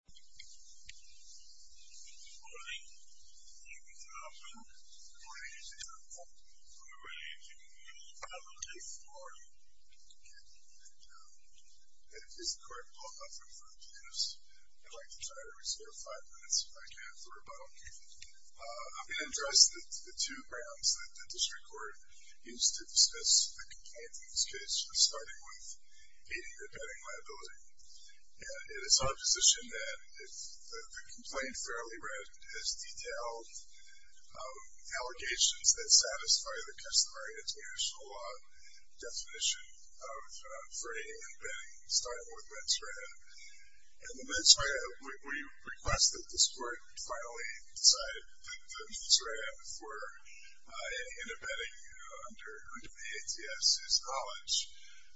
Good morning. David Thompson. Good morning, Mr. Thompson. We're ready to move to public hearing. Good morning. Is the court open for the plaintiffs? I'd like to try to reserve five minutes if I can for a vote. I'm going to address the two grounds that the district court used to dismiss the complaint in this case, starting with aiding or abetting liability. It is our position that the complaint, fairly read, has detailed allegations that satisfy the customary international law definition of fraying and abetting, starting with mens rea. In the mens rea, we request that the court finally decide that the mens rea for in abetting under the ATS is knowledge.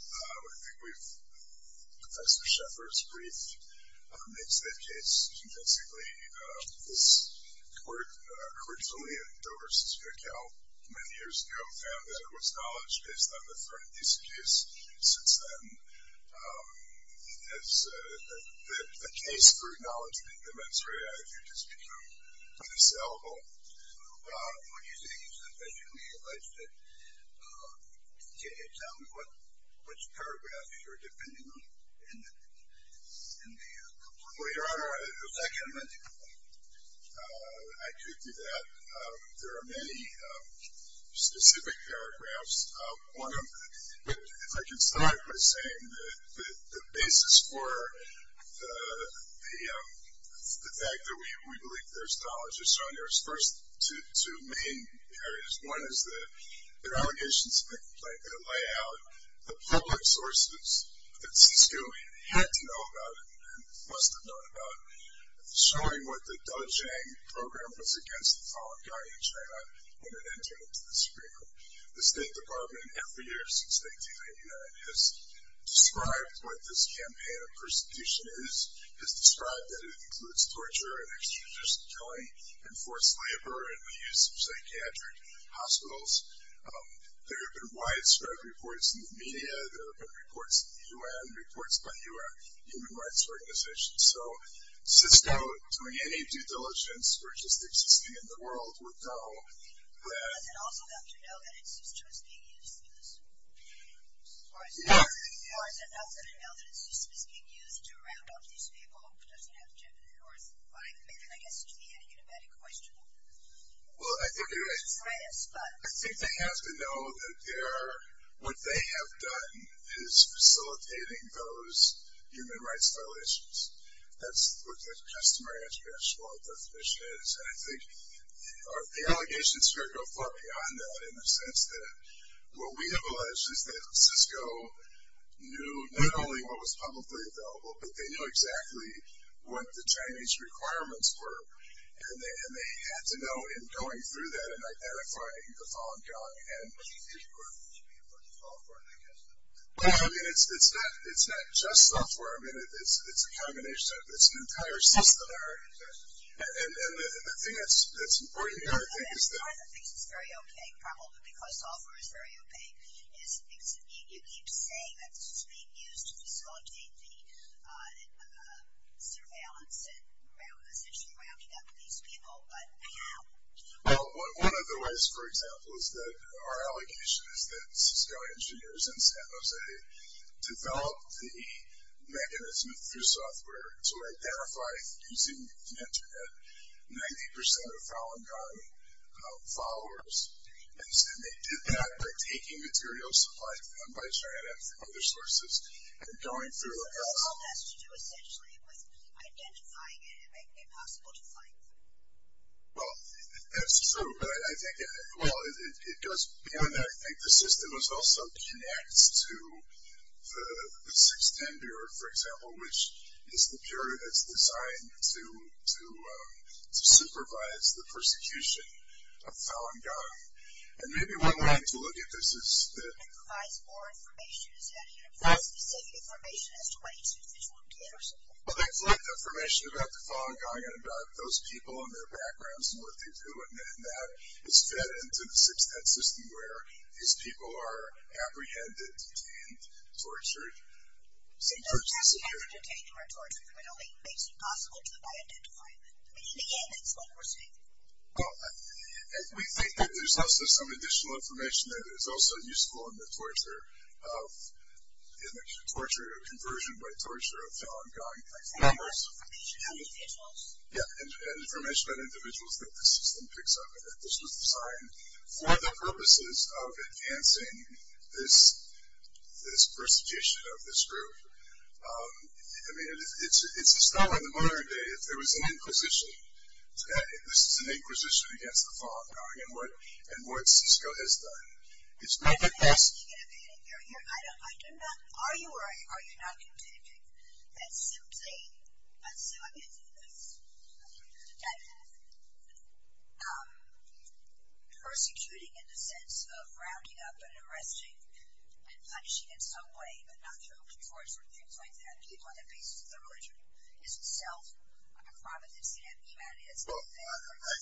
I think we've, Professor Shepard's brief makes that case intrinsically. This court, originally in Dover v. Cal many years ago, found that it was knowledge based on the fraying and disabuse. Since then, it has, the case for acknowledging the mens rea, I think, has become unassailable. What do you think? It's officially alleged. Can you tell me which paragraphs you're depending on in the complaint? Your Honor, the second one. I could do that. There are many specific paragraphs. One of them, if I can start by saying that the basis for the fact that we believe there's knowledge is shown, there's first two main areas. One is the allegations in the complaint that lay out the public sources that CISCO had to know about and must have known about, showing what the Da Zhang program was against the Fallen Guards in China when it entered into the Supreme Court. The State Department, every year since 1989, has described what this campaign of persecution is, has described that it includes torture and extradition killing, enforced labor and the use of psychiatric hospitals. There have been widespread reports in the media. There have been reports in the U.N., reports by U.N. human rights organizations. So CISCO, doing any due diligence, or just existing in the world, would know that. Does it also have to know that its system is being used? Yes. Or does it have to know that its system is being used to round off these people? Or is it, I guess, to me, a unibatic question? Well, I think they have to know that what they have done is facilitating those human rights violations. That's what the customary international law definition is. And I think the allegations here go far beyond that in the sense that what we have alleged is that CISCO knew not only what was publicly available, but they knew exactly what the Chinese requirements were. And they had to know in going through that and identifying the Falun Gong. But the Supreme Court should be able to solve for it, I guess. Well, I mean, it's not just software. I mean, it's a combination. It's an entire system there. And the thing that's important here, I think, is that. One of the things that's very opaque, probably because software is very opaque, is you keep saying that this is being used to facilitate the surveillance and essentially rounding up these people, but how? Well, one of the ways, for example, is that our allegation is that CISCO engineers in San Jose developed the mechanism through software to identify, using the Internet, 90% of Falun Gong followers. And they did that by taking materials supplied by China and other sources and going through. So all that's to do essentially with identifying it and making it possible to find it. Well, that's true. But I think, well, it goes beyond that. I think the system is also connected to the 610 Bureau, for example, which is the bureau that's designed to supervise the persecution of Falun Gong. And maybe one way to look at this is that. It provides more information. Is that a university-specific information as to why each individual did it or something? Well, they collect information about the Falun Gong and about those people and their backgrounds and what they do. And then that is fed into the 610 system where these people are apprehended, detained, tortured, sometimes persecuted. So apprehension, detention, or torture, if you will, makes it possible to identify them. I mean, in the end, that's what we're seeing. Well, we think that there's also some additional information that is also useful in the torture of, in the torture of conversion by torture of Falun Gong. Information on individuals? Yeah, information on individuals that the system picks up. This was designed for the purposes of enhancing this persecution of this group. I mean, it's a story. In the modern day, if there was an inquisition, this is an inquisition against the Falun Gong and what CSCO has done is look at this. I don't know. Are you or are you not contending that simply assuming that persecuting in the sense of rounding up and arresting and punishing in some way, but not through open force or things like that, people on the basis of their religion, is itself a crime against humanity? Well, I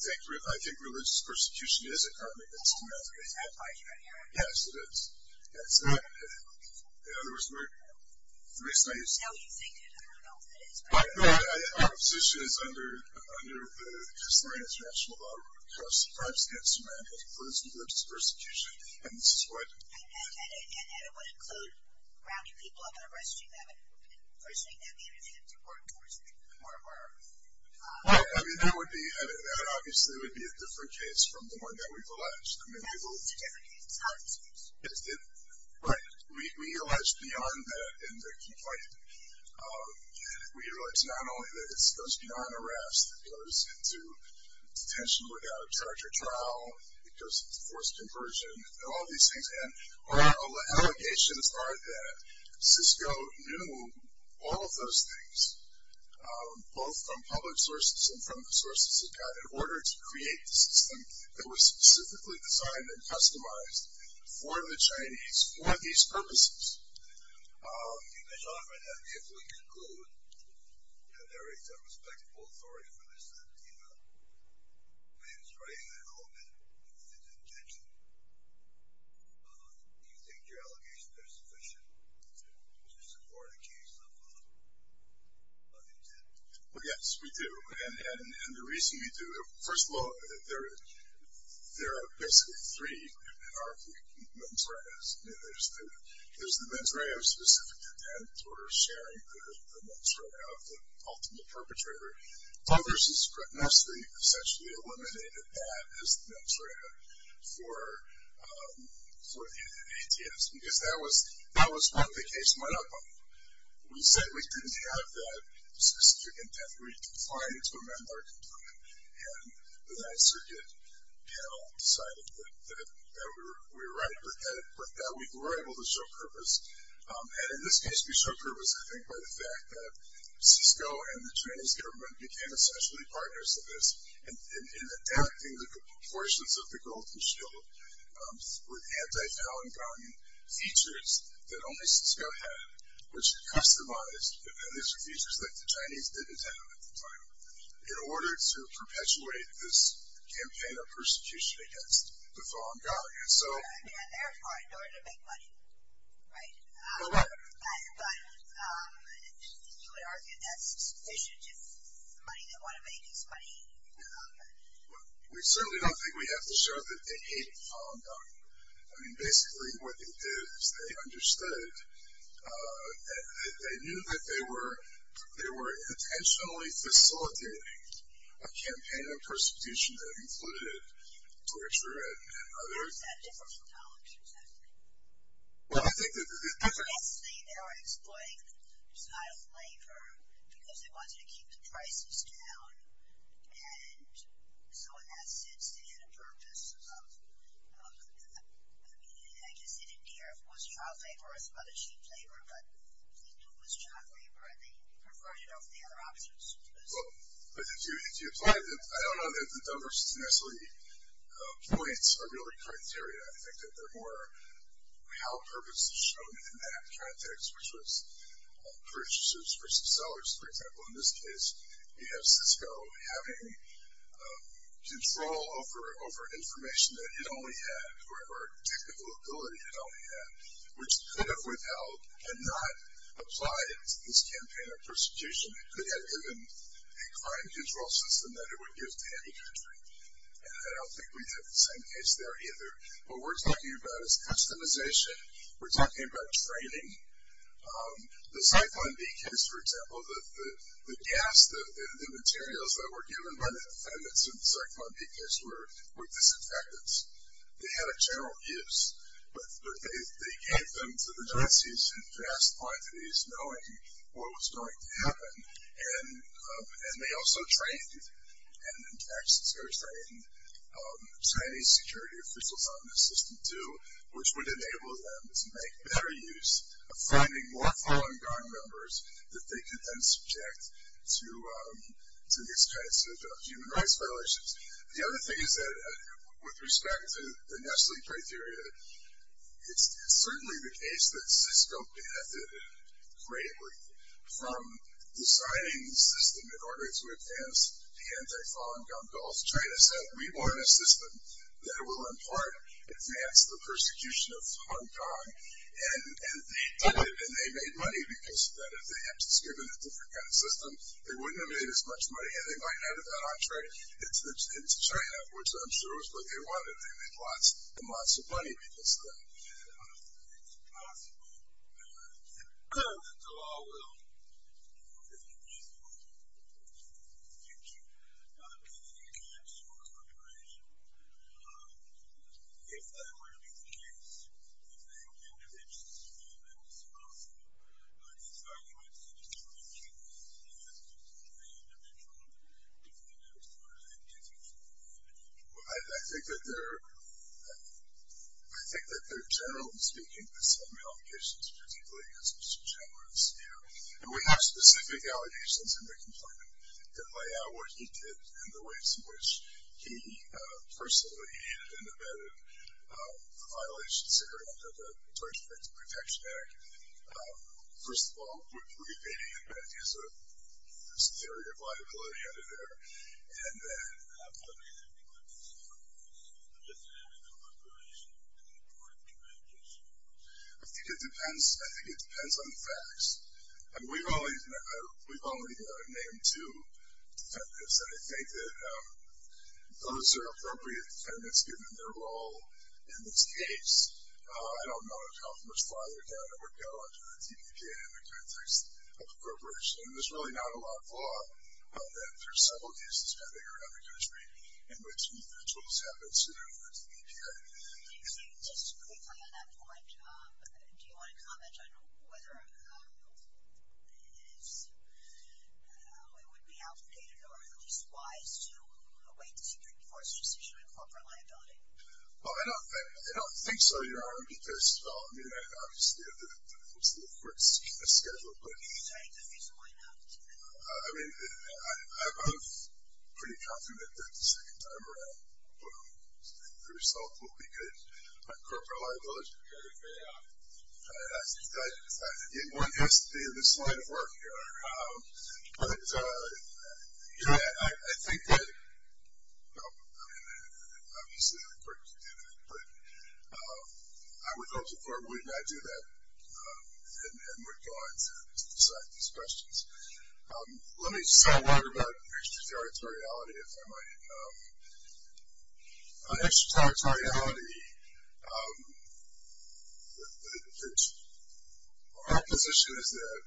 think religious persecution is a crime against humanity. Is that part of your narrative? Yes, it is. In other words, the reason I use that. No, you think it is. I don't know if it is, but. Our position is under the Historic International Law, that a crime against humanity includes religious persecution, and this is what. And it would include rounding people up and arresting them and punishing them either through open force or. I mean, that would be, that obviously would be a different case from the one that we've alleged. I mean, I believe that. It's part of the system. Right. We allege beyond that in the complaint. We allege not only that it goes beyond arrest. It goes into detention without a charge or trial. It goes into forced conversion and all these things. And our allegations are that CSCO knew all of those things, both from public sources and from the sources it got in order to create the system that was specifically designed and customized for the Chinese for these purposes. Mr. Hoffman, if we conclude that there is a respectable authority for this, that it is rightfully held in detention, do you think your allegations are sufficient to support a case of intent? Well, yes, we do. And the reason we do it, first of all, there are basically three menarche mens reas. I mean, there's the mens rea of specific intent or sharing the mens rea of the ultimate perpetrator. So there's this grotesquely, essentially eliminated that as the mens rea for ATMs because that was what the case went up on. We said we didn't have that specific intent. We declined to amend our complaint. And the Ninth Circuit panel decided that we were right with that. We were able to show purpose. And in this case, we showed purpose, I think, by the fact that CSCO and the Chinese government became essentially partners of this in enacting the proportions of the Golden Shield with anti-Falun Gong features that only CSCO had, which is customized, and these are features that the Chinese didn't have at the time, in order to perpetuate this campaign of persecution against the Falun Gong. And therefore, in order to make money, right? Correct. But you would argue that's sufficient if it's the money they want to make is money. Well, we certainly don't think we have to show that they hate the Falun Gong. I mean, basically, what they did is they understood, they knew that they were intentionally facilitating a campaign of persecution that included torture and others. How is that different from college, exactly? Well, I think that the difference is they are exploiting the style of labor because they wanted to keep the prices down. And so in that sense, they had a purpose of, I guess, they didn't care if it was child labor or it was mother sheep labor, but they knew it was child labor and they preferred it over the other options. Well, but if you apply that, I don't know that the diversity necessarily points are really criteria. I think that they're more how purpose is shown in that context, which was purchases versus sellers. For example, in this case, you have Cisco having control over information that it only had, or technical ability it only had, which could have withheld and not applied it to this campaign of persecution. It could have given a crime control system that it would give to any country. And I don't think we have the same case there either. What we're talking about is customization. We're talking about training. The Cyclone V case, for example, the gas, the materials that were given by the defendants in the Cyclone V case were disinfectants. They had a general use, but they gave them to the Nazis in vast quantities, knowing what was going to happen. And they also trained, and in fact, Cisco trained, Chinese security officials on this system do, which would enable them to make better use of finding more Falun Gong members that they could then subject to these kinds of human rights violations. The other thing is that with respect to the Nestle criteria, it's certainly the case that Cisco benefited greatly from designing the system in order to advance the anti-Falun Gong goals, because China said we want a system that will, in part, advance the persecution of Falun Gong. And they did it, and they made money because of that. If they had just given a different kind of system, they wouldn't have made as much money, and they might not have gone on trade into China, which I'm sure is what they wanted. They made lots and lots of money because of that. It's possible that the law will be useful in the future, in any case, for liberation. If that were to be the case, do you think individuals would be able to solve it? In fact, you might say there's two options. Yes, there's the three-individual, and no, there's the four-individual. I think that there are, generally speaking, some modifications, particularly against Mr. Chambliss. And we have specific allegations in the complainant that lay out what he did and the ways in which he personally inhibited and abetted the violations that are under the Torture Victims Protection Act. First of all, we're debating if that is an area of liability under there, and then... I'm not saying that it would be an area of liability. It's just an area of appropriation and the importance of communication. I think it depends on the facts. I mean, we've only named two defendants, and I think that those are appropriate defendants given their role in this case. I don't know how much farther down it would go under the TPJ in the context of appropriation. There's really not a lot of law that, for several years, has been bigger than the country in which those have been seen under the TPJ. Thank you. Just quickly on that point, do you want to comment on whether it would be outdated or at least wise to await the Supreme Court's decision on corporate liability? Well, I don't think so, Your Honor, because, I mean, obviously, there's a schedule, but... I mean, I'm pretty confident that the second time around, the result will be good. Corporate liability is going to pay off. One has to be in this line of work, Your Honor. But, you know, I think that... No, I mean, obviously, the court can do that, but I would hope the court would not do that and would go on to decide these questions. Let me say a word about extraterritoriality, if I might. On extraterritoriality, our position is that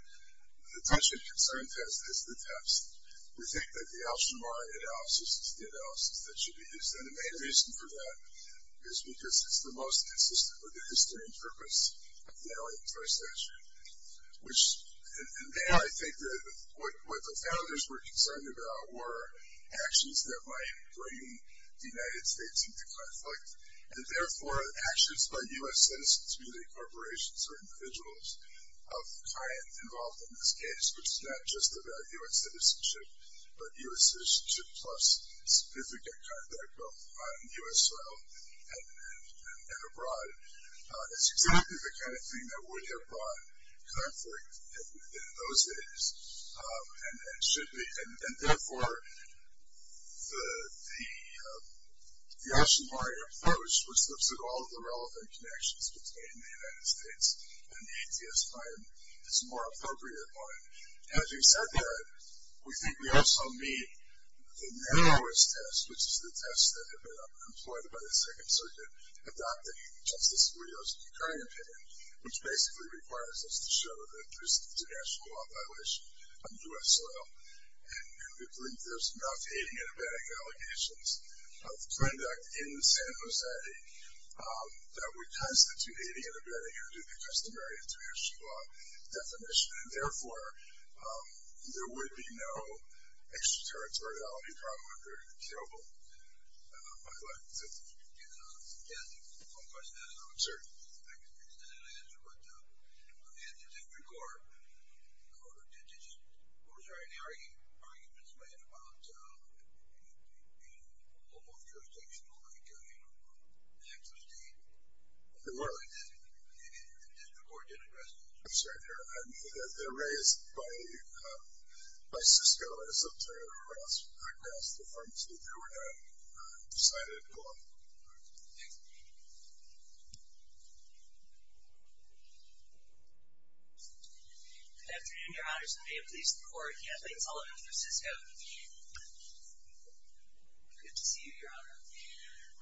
the tension-concern test is the test. We think that the Alshamara analysis is the analysis that should be used, and the main reason for that is because it's the most consistent with the history and purpose of the Alliance for Extraterritoriality. And there, I think that what the founders were concerned about were actions that might bring the United States into conflict and, therefore, actions by U.S. citizens, be they corporations or individuals of kind involved in this case, which is not just about U.S. citizenship, but U.S. citizenship plus significant conduct both on U.S. soil and abroad. It's exactly the kind of thing that would have brought conflict in those days and should be. And, therefore, the Alshamara approach, which looks at all of the relevant connections between the United States and the ATS-5, is a more appropriate one. And as we've said there, we think we also meet the narrowest test, which is the test that had been employed by the Second Circuit adopting Justice Scalia's current opinion, which basically requires us to show that there's international law violation on U.S. soil. And we believe there's enough hating and abetting allegations of conduct in the San Jose that would constitute hating and abetting under the customary international law definition. And, therefore, there would be no extraterritoriality problem by collecting citizens. Yes. One question I don't know. Sir. I can understand that answer, but on the end of the District Court, the Court of Indigent, what was the argument made about a local jurisdiction like Texas State? The District Court didn't address that. I'm sorry. They're raised by Cisco as an alternative and they didn't address the difference that they were going to decide on their own. Thank you. Good afternoon, Your Honors. I am pleased to report Kathleen Sullivan for Cisco. Good to see you, Your Honor.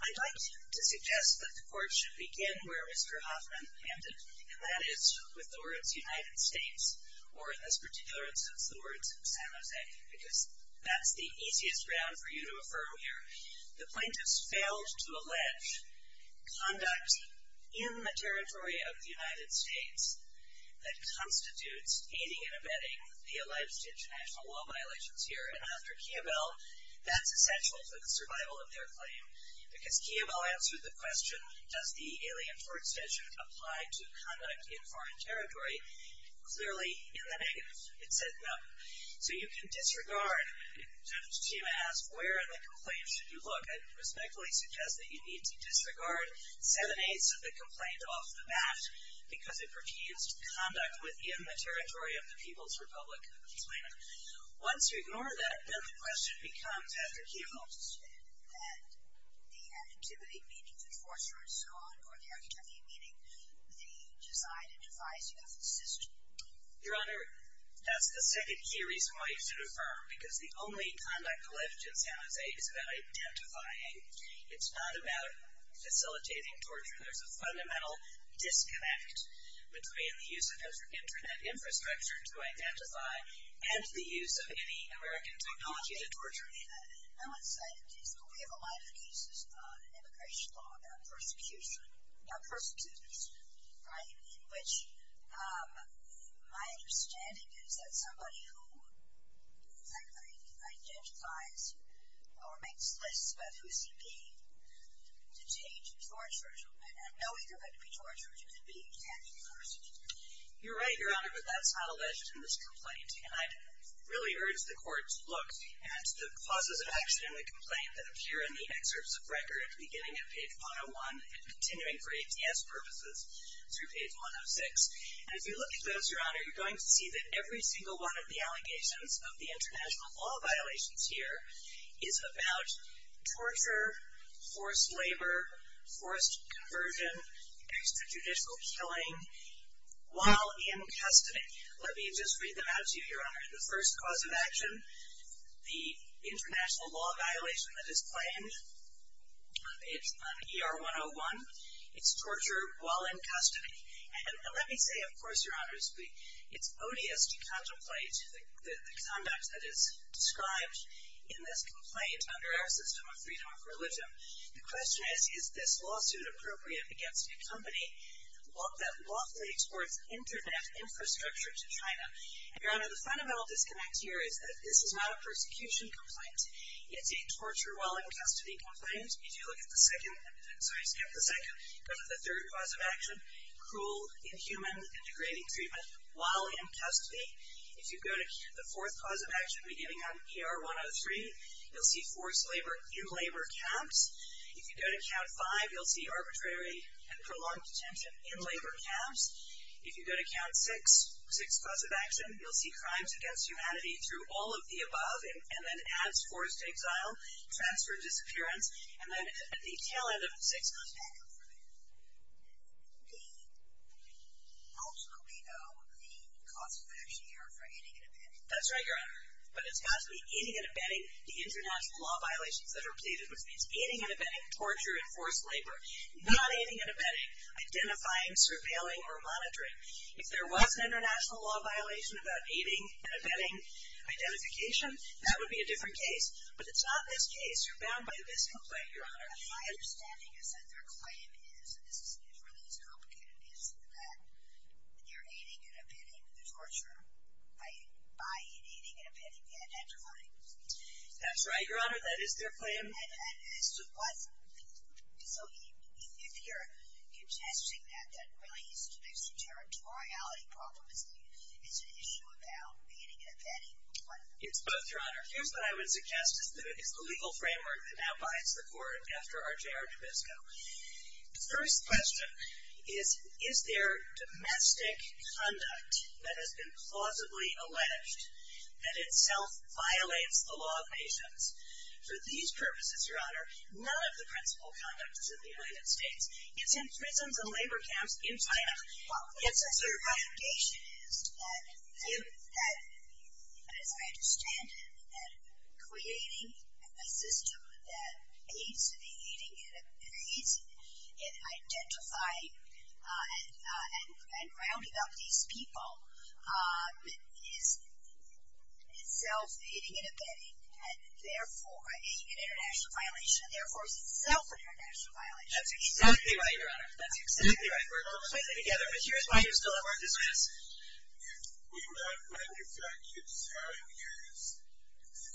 I'd like to suggest that the Court should begin where Mr. Hoffman ended, and that is with the words United States, or in this particular instance, the words San Jose, because that's the easiest ground for you to affirm here. The plaintiffs failed to allege conduct in the territory of the United States that constitutes aiding and abetting the alleged international law violations here. And, after Kiobel, that's essential for the survival of their claim because Kiobel answered the question, does the alien for extension apply to conduct in foreign territory? Clearly, in the negative, it said no. So you can disregard, Judge Tima asked where in the complaint should you look. I'd respectfully suggest that you need to disregard seven-eighths of the complaint off the bat because it profused conduct within the territory of the People's Republic. Once you ignore that, then the question becomes, after Kiobel. And the activity, meaning the enforcer and so on, or the activity meaning the design and devising of the system? Your Honor, that's the second key reason why you should affirm because the only conduct left in San Jose is about identifying. It's not about facilitating torture. There's a fundamental disconnect between the use of internet infrastructure to identify and the use of any American technology to torture people. I want to say that we have a lot of cases in immigration law about persecution, right, in which my understanding is that somebody who identifies or makes lists about who's he being to change the torture, and knowing of it to be torture, should be being changed first. You're right, Your Honor, but that's not alleged in this complaint. And I'd really urge the Court to look at the clauses of action in the complaint that appear in the excerpts of record beginning at page 101 and continuing for ATS purposes through page 106. And if you look at those, Your Honor, you're going to see that every single one of the allegations of the international law violations here is about torture, forced labor, forced conversion, extrajudicial killing, while in custody. The first clause of action, the international law violation that is claimed, it's on ER 101, it's torture while in custody. And let me say, of course, Your Honor, it's odious to contemplate the conduct that is described in this complaint under our system of freedom of religion. The question is, is this lawsuit appropriate against a company that lawfully exports internet infrastructure to China? Your Honor, the fundamental disconnect here is that this is not a persecution complaint. It's a torture while in custody complaint. If you look at the second, sorry, skip the second, go to the third clause of action, cruel, inhuman, and degrading treatment while in custody. If you go to the fourth clause of action beginning on ER 103, you'll see forced labor in labor camps. If you go to count five, you'll see arbitrary and prolonged detention in labor camps. If you go to count six, six clause of action, you'll see crimes against humanity through all of the above, and then adds forced exile, transfer of disappearance, and then at the tail end of the six clause of action. Okay. How do we know the cause of action here for aiding and abetting? That's right, Your Honor. But it's got to be aiding and abetting the international law violations that are pleaded, which means aiding and abetting torture and forced labor. Not aiding and abetting identifying, surveilling, or monitoring. If there was an international law violation about aiding and abetting identification, that would be a different case. But it's not this case. You're bound by this complaint, Your Honor. My understanding is that their claim is, and this is really as complicated as it is, that you're aiding and abetting the torture by aiding and abetting the identifying. That's right, Your Honor. That is their claim. So if you're suggesting that really there's a territoriality problem, it's an issue about aiding and abetting, what is it? It's both, Your Honor. Here's what I would suggest is the legal framework that now binds the court after RJR Tobisco. The first question is, is there domestic conduct that has been plausibly alleged that itself violates the law of nations? For these purposes, Your Honor, none of the principled conduct is in the United States. It's in prisons and labor camps in China. Well, my understanding is that, as I understand it, that creating a system that aids in identifying and rounding up these people is itself aiding and abetting and, therefore, aiding an international violation and, therefore, is itself an international violation. That's exactly right, Your Honor. That's exactly right. We're all in this together. But here's why you're still a part of this. If we were not going to factually examine the areas in the U.S.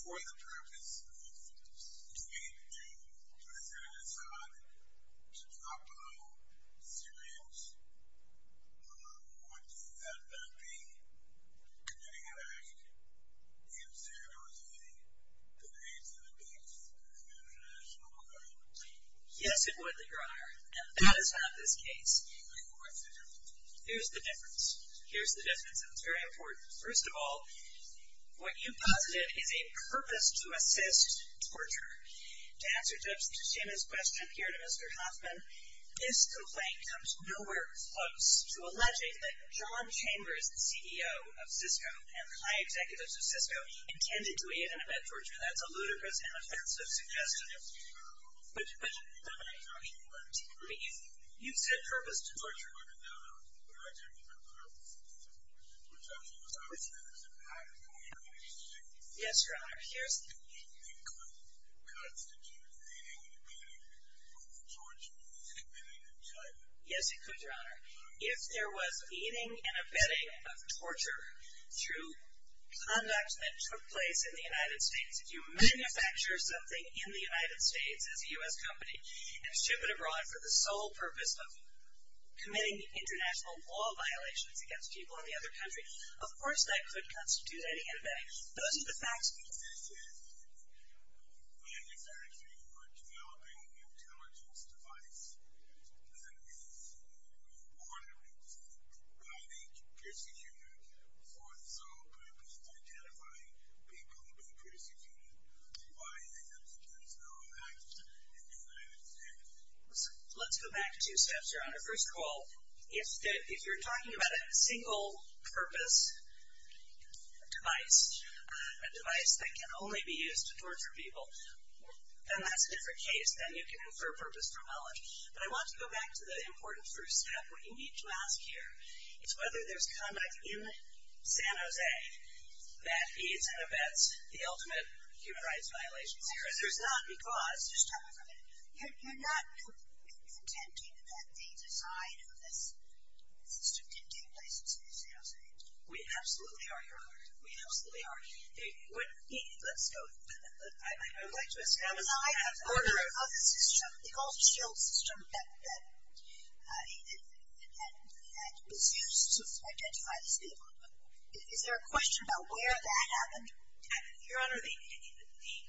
for the purpose of committing to a genocide to drop below Syrians, would that not be committing an act in standardizing the needs and the needs of an international violation? Yes, it would, Your Honor, and that is not this case. Here's the difference. Here's the difference, and it's very important. First of all, what you've posited is a purpose to assist torture. To answer Judge Tichina's question here to Mr. Hoffman, this complaint comes nowhere close to alleging that John Chambers, the CEO of Cisco and high executive of Cisco, intended to aid and abet torture. That's a ludicrous and offensive suggestion. But you said purpose to torture. Yes, Your Honor. Yes, it could, Your Honor. If there was aiding and abetting of torture through conduct that took place in the United States, if you manufacture something in the United States as a U.S. company and ship it abroad for the sole purpose of committing international law violations against people in the other country, of course that could constitute aiding and abetting. Those are the facts. This is manufacturing or developing an intelligence device that is ordered by the procedure for the sole purpose of identifying people with a preexisting body. That's the facts. Let's go back two steps, Your Honor. First of all, if you're talking about a single purpose device, a device that can only be used to torture people, then that's a different case than you can infer purpose from knowledge. But I want to go back to the important first step. What you need to ask here is whether there's conduct in San Jose that aids and abets the ultimate human rights violations here. And there's not because. Just tell me for a minute. You're not contending that the design of this system didn't take place in San Jose? We absolutely are, Your Honor. We absolutely are. Let's go. I would like to ask how does the design of the system, the gold shield system that was used to identify these people, is there a question about where that happened? Your Honor, the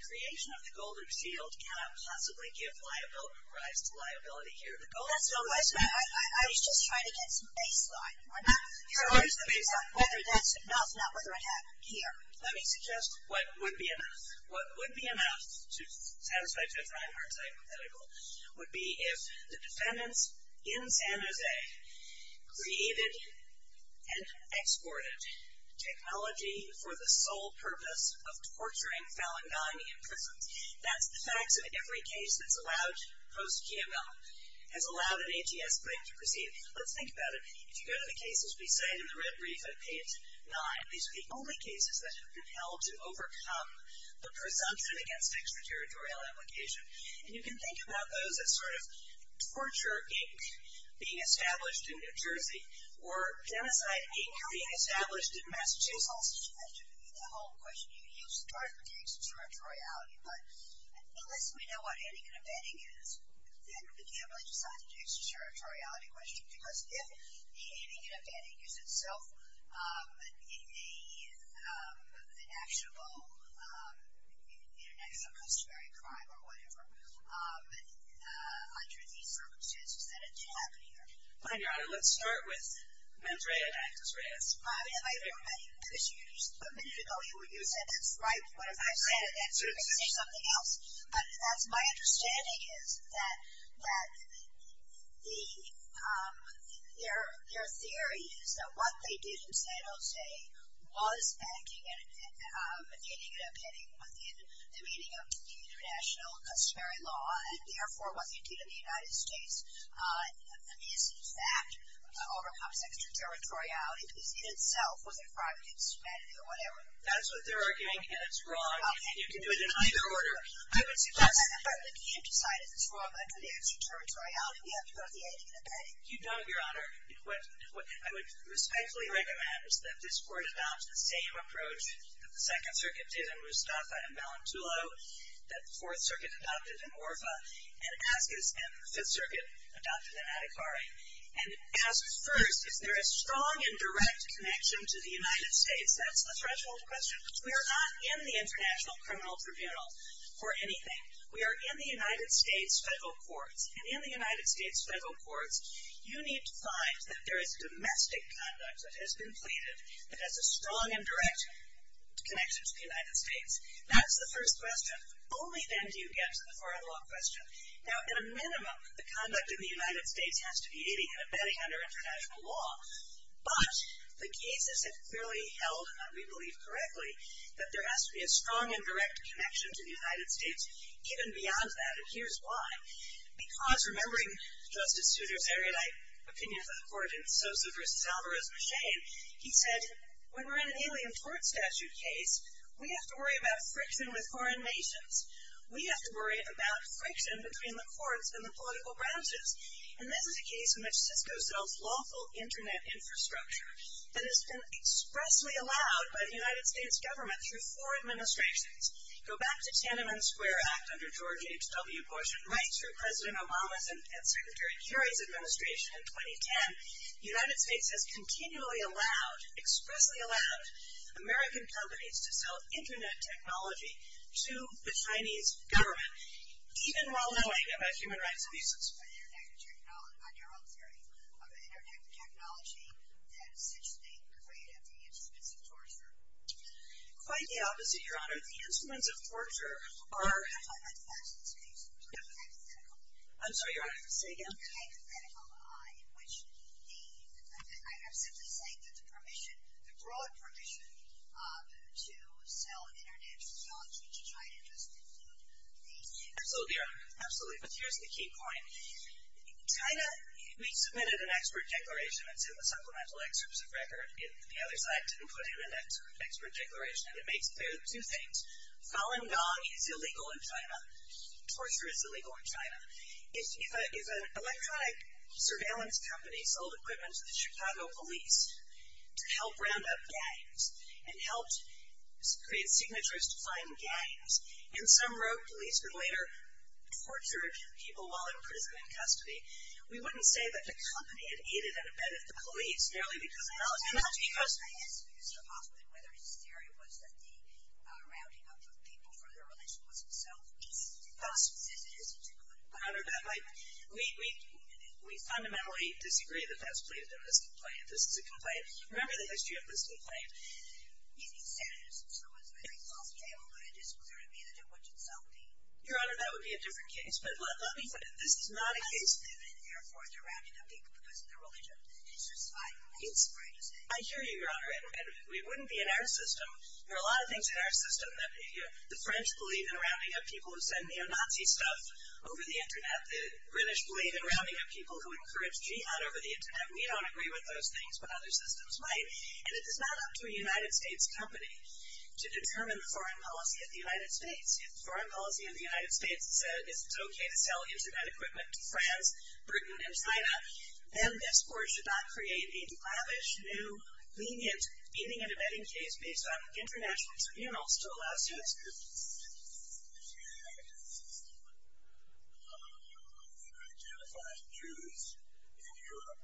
creation of the gold shield cannot possibly give rise to liability here. That's no question. I was just trying to get some baseline. Your Honor, what is the baseline? Whether that's enough, not whether it happened here. Let me suggest what would be enough. What would be enough to satisfy a two-pronged hypothetical would be if the defendants in San Jose created and exported technology for the sole purpose of torturing Falangani in prison. That's the facts of every case that's allowed post-KML, has allowed an ATS brief to proceed. Let's think about it. If you go to the cases we say in the brief at page 9, these are the only cases that have been held to overcome the presumption against extraterritorial implication. And you can think about those as sort of torture Inc. being established in New Jersey, or genocide Inc. being established in Massachusetts. That should be the whole question. You start with the extraterritoriality, but unless we know what ending and abetting is, then we can't really decide the extraterritoriality question, because if the ending and abetting is itself an actionable, you know, negative or customary crime or whatever, under these circumstances, then it didn't happen either. But, Your Honor, let's start with Madre and Actus Reis. Well, I mean, I don't know, because you just, a minute ago, you said that's right, but if I say it again, you're going to say something else. But that's, my understanding is that the, their theory is that what they did in San Jose was acting, and the ending and abetting was in the meaning of the international customary law, and therefore what they did in the United States is, in fact, overcomes extraterritoriality, because it itself was a crime against humanity or whatever. That's what they're arguing, and it's wrong. You can do it in either order. I would suggest that if we can't decide if it's wrong under the extraterritoriality, we have to go with the ending and abetting. You don't, Your Honor. What I would respectfully recommend is that this Court adopt the same approach that the Second Circuit did in Mustafa and Balintulo, that the Fourth Circuit adopted in Orfa, and Ascus and the Fifth Circuit adopted in Adhikari, and ask first, is there a strong and direct connection to the United States? That's the threshold question. We are not in the International Criminal Tribunal for anything. We are in the United States federal courts, and in the United States federal courts, you need to find that there is domestic conduct that has been pleaded that has a strong and direct connection to the United States. That's the first question. Only then do you get to the far and long question. Now, at a minimum, the conduct in the United States has to be ending and abetting under international law, but the cases have clearly held, and we believe correctly, that there has to be a strong and direct connection to the United States. Even beyond that, and here's why. Because, remembering Justice Souter's erudite opinion of the Court in Sosa v. Alvarez-Machin, he said, when we're in an alien court statute case, we have to worry about friction with foreign nations. We have to worry about friction between the courts and the political branches. And this is a case in which Cisco sells lawful internet infrastructure that has been expressly allowed by the United States government through four administrations. Go back to the Tiananmen Square Act under George H. W. Bush, and right through President Obama's and Secretary Kerry's administration in 2010, the United States has continually allowed, expressly allowed, American companies to sell internet technology to the Chinese government, even while knowing about human rights abuses. But internet technology, on your own theory, are they internet technology that such things create at the expense of torture? Quite the opposite, Your Honor. The instruments of torture are… I'm not talking about the facts of this case. I'm talking about the hypothetical. I'm sorry, Your Honor. Say again. The hypothetical in which the… I'm simply saying that the broad permission to sell internet technology to China just includes the… Absolutely, Your Honor. Absolutely. But here's the key point. China, we submitted an expert declaration. It's in the Supplemental Excerpts of Record. The other side didn't put it in that expert declaration, and it makes clear two things. Falun Gong is illegal in China. Torture is illegal in China. If an electronic surveillance company sold equipment to the Chicago police to help round up gangs and helped create signatures to find gangs, and some rogue police would later torture a few people while in prison in custody, we wouldn't say that the company had aided and abetted the police merely because of knowledge. Your Honor, I asked Mr. Hoffman whether his theory was that the rounding up of people for their religion wasn't self-evident. It's impossible. It isn't. It couldn't be. Your Honor, we fundamentally disagree that that's believed in this complaint. This is a complaint. Remember the history of this complaint. He said it was a very false claim, but it is clear to me that it would in itself be… Your Honor, that would be a different case. But let me say that this is not a case… How do you know that, therefore, they're rounding up people because of their religion? I hear you, Your Honor, and it wouldn't be in our system. There are a lot of things in our system that the French believe in rounding up people who send neo-Nazi stuff over the Internet. The British believe in rounding up people who encourage jihad over the Internet. We don't agree with those things, but other systems might, and it is not up to a United States company to determine the foreign policy of the United States. If the foreign policy of the United States said it's okay to sell Internet equipment to France, Britain, and China, then this Court should not create a lavish, new, lenient, even intermittent case based on international tribunals to allow students to… If you had a system where you could identify Jews in Europe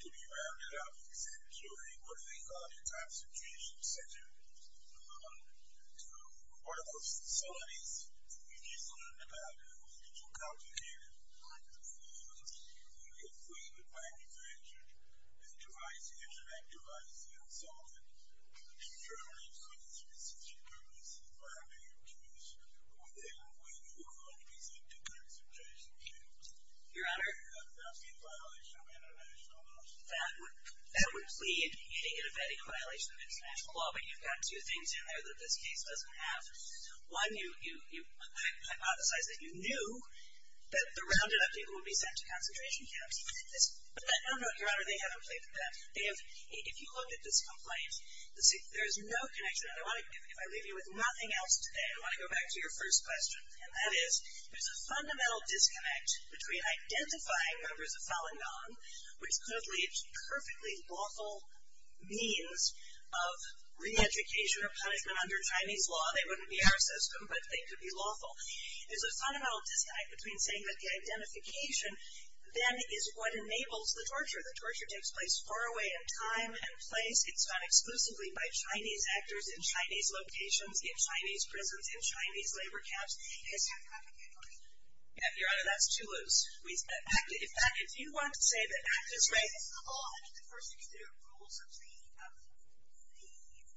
to be rounded up, you send them to a, what do they call it, a concentration center. To one of those facilities. You just learned about it. We need to calculate it. And if we would, by definition, enterize the Internet, enterize it, and sell it, then surely it's within the specific purpose of rounding up Jews who would then, when Europe opens up to concentration camps. Your Honor? That would be a violation of international law. That would lead to getting a vetting violation of international law, but you've got two things in there that this case doesn't have. One, you hypothesize that you knew that the rounded up people would be sent to concentration camps. But no, no, Your Honor, they haven't played with that. If you look at this complaint, there's no connection. If I leave you with nothing else today, I want to go back to your first question. And that is, there's a fundamental disconnect between identifying members of Falun Gong, which clearly is a perfectly lawful means of re-education or punishment under Chinese law. They wouldn't be our system, but they could be lawful. There's a fundamental disconnect between saying that the identification then is what enables the torture. The torture takes place far away in time and place. It's done exclusively by Chinese actors in Chinese locations, in Chinese prisons, in Chinese labor camps. Is that correct, Your Honor? Your Honor, that's too loose. In fact, if you want to say that actors raise the law, I think the first thing is there are rules of the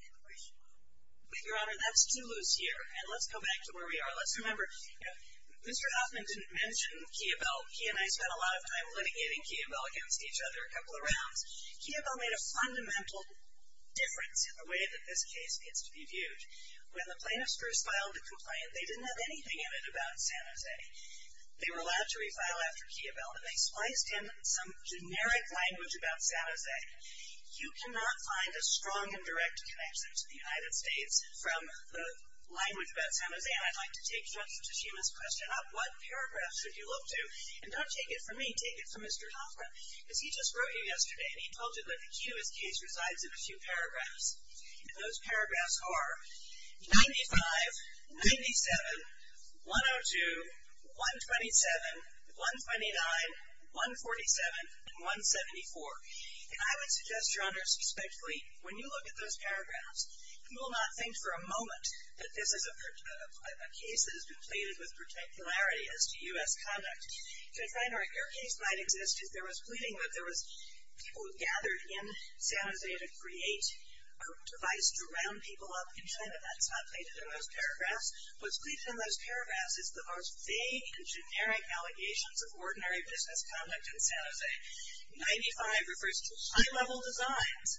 immigration law. But, Your Honor, that's too loose here. And let's go back to where we are. Let's remember, Mr. Hoffman didn't mention Kia Bell. He and I spent a lot of time litigating Kia Bell against each other a couple of rounds. Kia Bell made a fundamental difference in the way that this case gets to be viewed. When the plaintiffs first filed the complaint, they didn't have anything in it about San Jose. They were allowed to refile after Kia Bell, and they spliced in some generic language about San Jose. You cannot find a strong and direct connection to the United States from the language about San Jose. And I'd like to take Judge Tsushima's question up. What paragraphs would you look to? And don't take it from me. Take it from Mr. Hoffman. Because he just wrote you yesterday, and he told you that the Kia Bell case resides in a few paragraphs. And those paragraphs are 95, 97, 102, 127, 129, 147, and 174. And I would suggest, Your Honor, suspectfully, when you look at those paragraphs, you will not think for a moment that this is a case that has been pleaded with particularity as to U.S. conduct. Judge Reinhart, your case might exist if there was pleading, but there was people gathered in San Jose to create a device to round people up in China. That's not stated in those paragraphs. What's pleaded in those paragraphs is the most vague and generic allegations of ordinary business conduct in San Jose. 95 refers to high-level designs.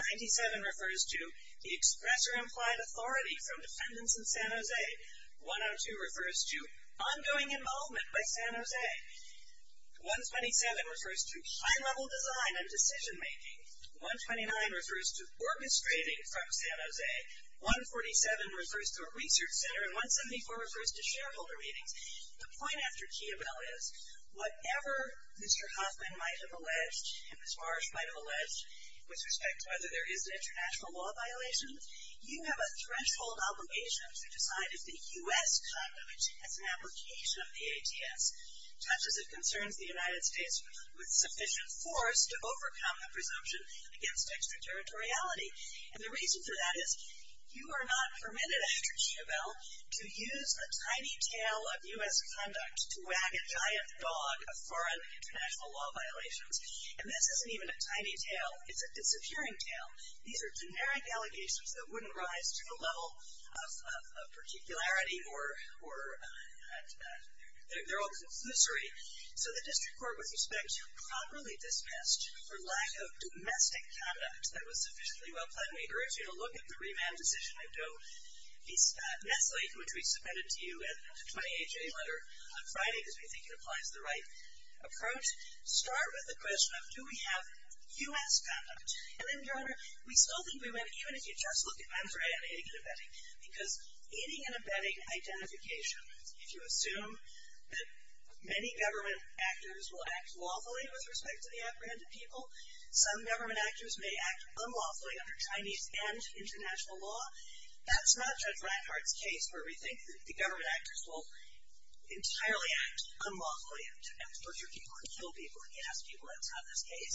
97 refers to the express or implied authority from defendants in San Jose. 102 refers to ongoing involvement by San Jose. 127 refers to high-level design and decision-making. 129 refers to orchestrating from San Jose. 147 refers to a research center. And 174 refers to shareholder meetings. The point after Kia Bell is, whatever Mr. Hoffman might have alleged and Ms. Marsh might have alleged, with respect to whether there is an international law violation, you have a threshold obligation to decide if the U.S. conduct as an application of the ATS touches or concerns the United States with sufficient force to overcome the presumption against extraterritoriality. And the reason for that is you are not permitted, after Kia Bell, to use a tiny tail of U.S. conduct to wag a giant dog of foreign international law violations. And this isn't even a tiny tail. It's a peering tail. These are generic allegations that wouldn't rise to the level of particularity or they're all conclusory. So the District Court, with respect, properly dispensed for lack of domestic conduct that was sufficiently well-planned. We urge you to look at the remand decision at Doe v. Nestle, which we submitted to you in a 28-J letter on Friday because we think it applies the right approach. Start with the question of do we have U.S. conduct. And then, Your Honor, we still think we might, even if you just look at Venn's right on aiding and abetting, because aiding and abetting identification, if you assume that many government actors will act lawfully with respect to the apprehended people, some government actors may act unlawfully under Chinese and international law, that's not Judge Blackhart's case where we think that the government actors will entirely act unlawfully and torture people and kill people and gas people. That's not this case.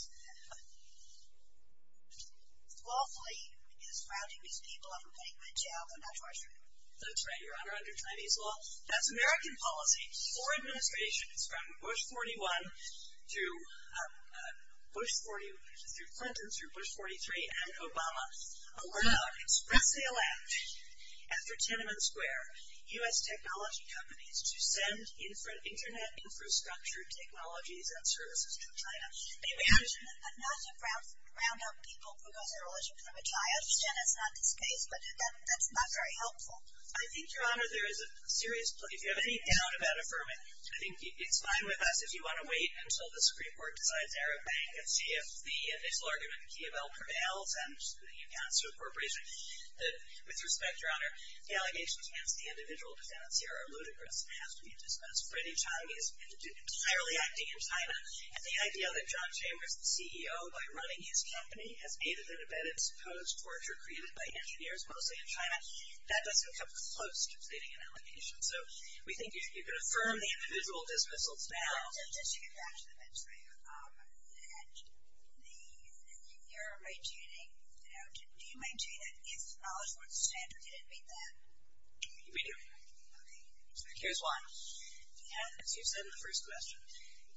Lawfully is grounding these people and putting them in jail and not torturing them. That's right, Your Honor, under Chinese law. That's American policy. Four administrations, from Bush 41 through Clinton through Bush 43 and Obama, expressly allowed, after Tiananmen Square, U.S. technology companies to send internet infrastructure technologies and services to China. May we ask you not to ground out people because they're religious, which I understand is not this case, but that's not very helpful. I think, Your Honor, there is a serious, if you have any doubt about affirming it, I think it's fine with us. If you want to wait until the Supreme Court decides Arab Bank and see if the initial argument in Key of L prevails and the accounts to the corporation, with respect, Your Honor, the allegations against the individual defendants here are ludicrous and have to be dismissed. Freddie Chang is entirely acting in China, and the idea that John Chambers, the CEO, by running his company, has aided and abetted supposed torture created by engineers, mostly in China, that doesn't come close to stating an allegation. So, we think you can affirm the individual dismissals now. Just to get back to the mentor, Your Honor, do you maintain that if knowledge weren't standard, you didn't meet them? We do. Okay. Here's why. As you said in the first question,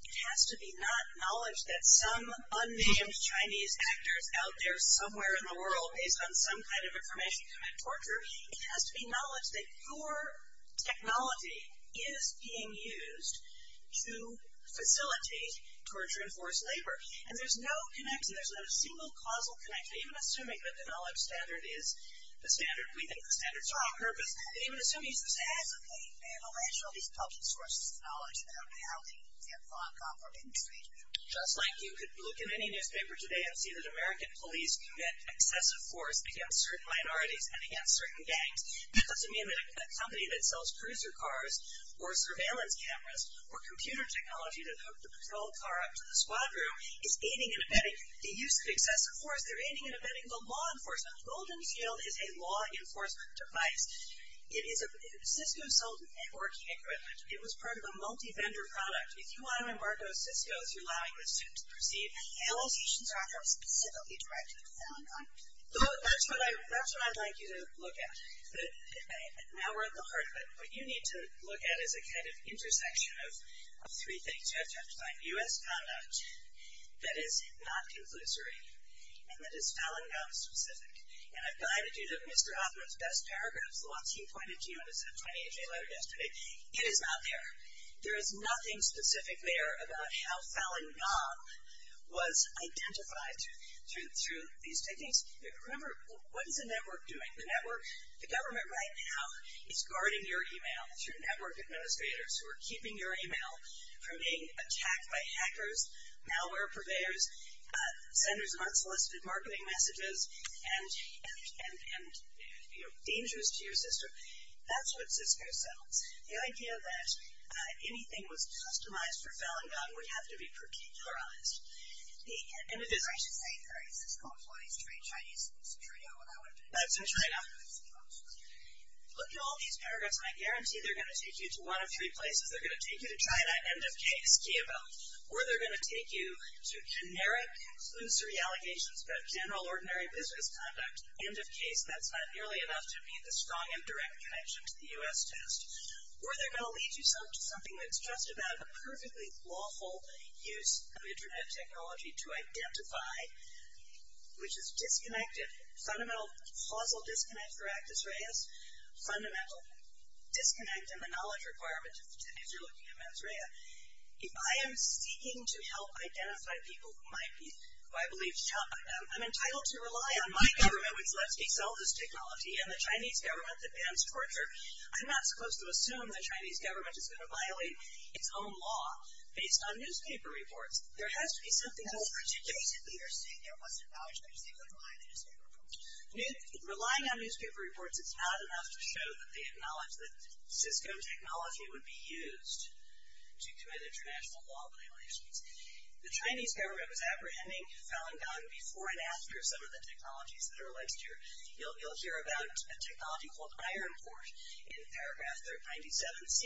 it has to be not knowledge that some unnamed Chinese actor is out there somewhere in the world based on some kind of information to commit torture. It has to be knowledge that your technology is being used to facilitate torture and forced labor. And there's no connection. There's not a single causal connection, even assuming that the knowledge standard is the standard. We think the standards are on purpose. But even assuming it's the standard. Okay. And the ratio of these public sources of knowledge that are behaving in Hong Kong or in the States. Just like you could look in any newspaper today and see that American police commit excessive force against certain minorities and against certain gangs. Because a company that sells cruiser cars or surveillance cameras or computer technology to hook the patrol car up to the squad room is aiding and abetting the use of excessive force. They're aiding and abetting the law enforcement. Goldenfield is a law enforcement device. Cisco sold networking equipment. It was part of a multi-vendor product. If you want to embargo Cisco through allowing the students to proceed, the allocations are not specifically directed at Falun Gong. That's what I'd like you to look at. Now we're at the heart of it. What you need to look at is a kind of intersection of three things you have to understand. U.S. conduct that is not conclusory and that is Falun Gong specific. And I've guided you to Mr. Hoffman's best paragraph, the one he pointed to in his F28J letter yesterday. It is not there. There is nothing specific there about how Falun Gong was identified through these techniques. Remember, what is a network doing? The network, the government right now is guarding your e-mail through network administrators who are keeping your e-mail from being attacked by hackers, malware purveyors, senders of unsolicited marketing messages and, you know, dangers to your system. That's what Cisco sells. The idea that anything was customized for Falun Gong would have to be particularized. And it is. I should say there is a Cisco employee's trade in China. That's in China. Look at all these paragraphs. I guarantee they're going to take you to one of three places. They're going to take you to China, end of case, Kiabo. Or they're going to take you to generic conclusory allegations about general, ordinary business conduct, end of case. That's not nearly enough to be the strong and direct connection to the U.S. test. Or they're going to lead you to something that's just about a perfectly lawful use of Internet technology to identify, which is disconnected, fundamental causal disconnect for actus reus, fundamental disconnect in the knowledge requirement if you're looking at mens rea. If I am seeking to help identify people who might be, who I believe, I'm entitled to rely on my government, which lets me sell this technology, and the Chinese government that bans torture. I'm not supposed to assume the Chinese government is going to violate its own law based on newspaper reports. There has to be something else. That's ridiculous. You're saying there wasn't violation. You're saying they wouldn't violate a newspaper report. Relying on newspaper reports is not enough to show that they acknowledge that Cisco technology would be used to commit international law violations. The Chinese government was apprehending Falun Gong before and after some of the technologies that are alleged here. You'll hear about a technology called Iron Port in paragraph 397C.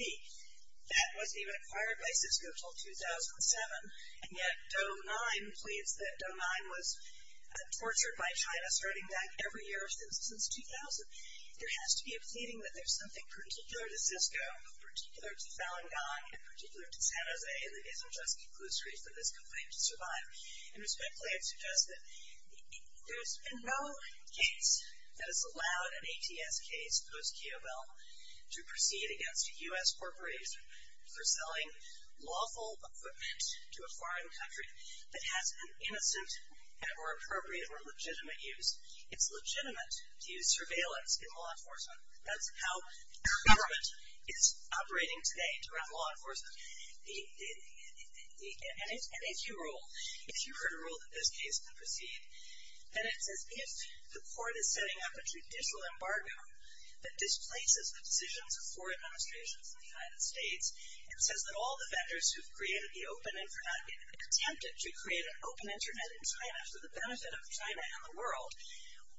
That wasn't even acquired by Cisco until 2007, and yet Do 9 pleads that Do 9 was tortured by China starting back every year since 2000. There has to be a pleading that there's something particular to Cisco, particular to Falun Gong, and particular to San Jose, that isn't just conclusory for this complaint to survive. Respectfully, I'd suggest that there's been no case that has allowed an ATS case, post-Kyobel, to proceed against a U.S. corporation for selling lawful equipment to a foreign country that has an innocent or appropriate or legitimate use. It's legitimate to use surveillance in law enforcement. That's how government is operating today around law enforcement. And if you rule, if you were to rule that this case could proceed, then it's as if the court is setting up a judicial embargo that displaces the decisions of foreign administrations in the United States and says that all the vendors who've attempted to create an open Internet in China for the benefit of China and the world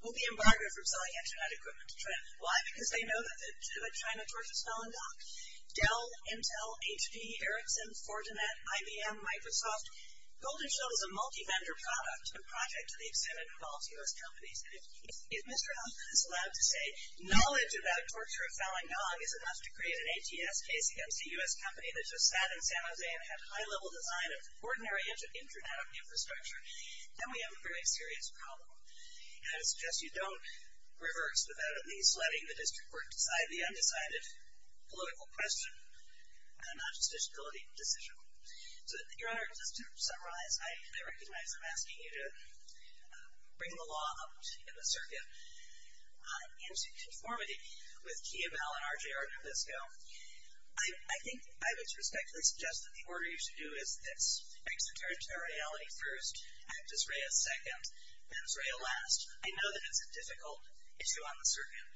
will be embargoed from selling Internet equipment to China. Why? Because they know that China tortures Falun Gong. Dell, Intel, HP, Ericsson, Fortinet, IBM, Microsoft, Goldenshow is a multi-vendor product, a project to the extent it involves U.S. companies. And if Mr. Hoffman is allowed to say knowledge about torture of Falun Gong is enough to create an ATS case against a U.S. company that just sat in San Jose and had high-level design of ordinary Internet infrastructure, then we have a very serious problem. And I suggest you don't reverse without at least letting the district court decide the undecided political question and not just disability decision. So, Your Honor, just to summarize, I recognize I'm asking you to bring the law up in the circuit in conformity with Kiev, Bell, and RJR Nabisco. I think I would respectfully suggest that the order you should do is this, extraterritoriality first, actus rea second, pens rea last. I know that it's a difficult issue on the circuit,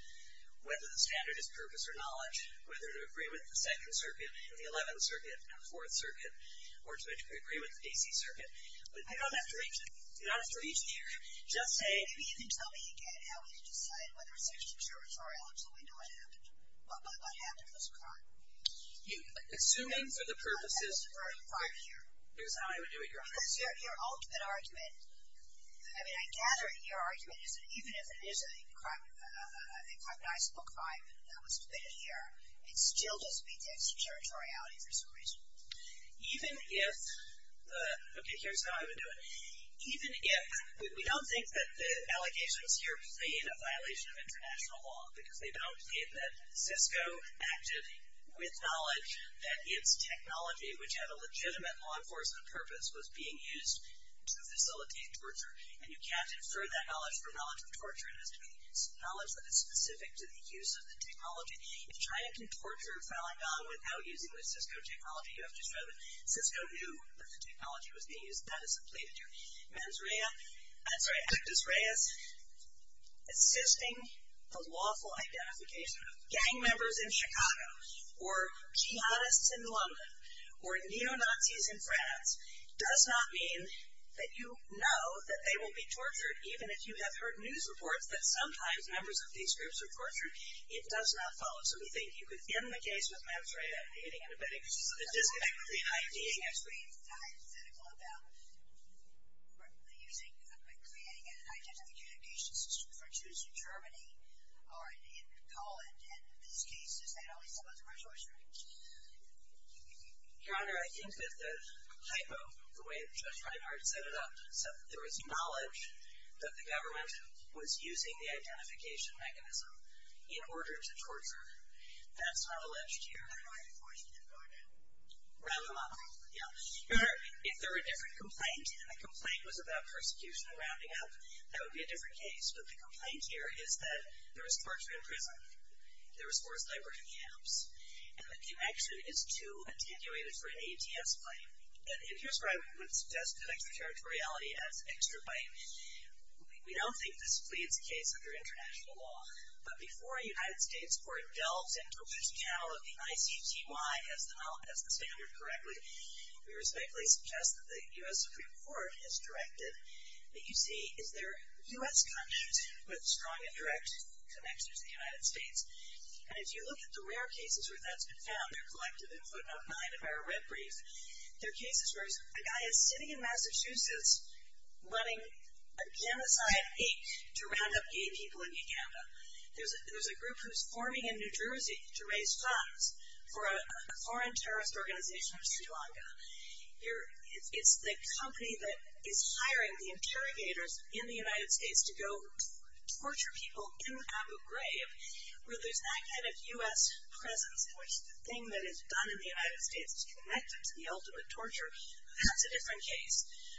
whether the standard is purpose or knowledge, whether to agree with the Second Circuit and the Eleventh Circuit and the Fourth Circuit, or to agree with the D.C. Circuit. But I don't have to reach there. Just say... Maybe you can tell me again how we can decide whether it's extraterritorial until we know what happened. What happened was a crime. Assuming for the purposes... That was a crime here. Here's how I would do it, Your Honor. Because your ultimate argument, I mean, I gather your argument is that even if it is an incognizable crime that was committed here, it still just meets extraterritoriality for some reason. Even if... Okay, here's how I would do it. Even if... We don't think that the allegations here plead a violation of international law because they don't plead that Cisco acted with knowledge that its technology, which had a legitimate law enforcement purpose, was being used to facilitate torture. And you can't infer that knowledge from knowledge of torture. It has to be knowledge that is specific to the use of the technology. If China can torture Falun Gong without using the Cisco technology, you have to show that Cisco knew that the technology was being used. That is a plea to do. Actus Reis, assisting the lawful identification of gang members in Chicago or jihadists in London or neo-Nazis in France does not mean that you know that they will be tortured. Even if you have heard news reports that sometimes members of these groups are tortured, it does not follow. So we think you could end the case with Actus Reis, I don't know if you have any antibiotics, but it is effectively IDing as well. I agree. It's hypothetical about creating an identification system, for instance, in Germany or in Poland. And in these cases, they'd always suppose a racial restraint. Your Honor, I think that the hypo, the way Judge Reinhardt set it up, said that there was knowledge that the government was using the identification mechanism in order to torture. That's not alleged here. How do I enforce that, Your Honor? Round them up. Yeah. Your Honor, if there were a different complaint and the complaint was about persecution and rounding up, that would be a different case. But the complaint here is that there was torture in prison. There was forced labor in camps. And the connection is too attenuated for an ATS bite. And here's where I would suggest extraterritoriality as extra bite. We don't think this pleads the case under international law. But before a United States court delves into which channel of the ICTY has the standard correctly, we respectfully suggest that the U.S. Supreme Court has directed that you see, is there U.S. conduct with strong and direct connections to the United States? And if you look at the rare cases where that's been found, they're collected in footnote 9 of our red brief, they're cases where a guy is sitting in Massachusetts letting a genocide ache to round up gay people in Uganda. There's a group who's forming in New Jersey to raise funds for a foreign terrorist organization in Sri Lanka. It's the company that is hiring the interrogators in the United States to go torture people in Abu Ghraib, where there's that kind of U.S. presence in which the thing that is done in the United States is connected to the ultimate torture. That's a different case.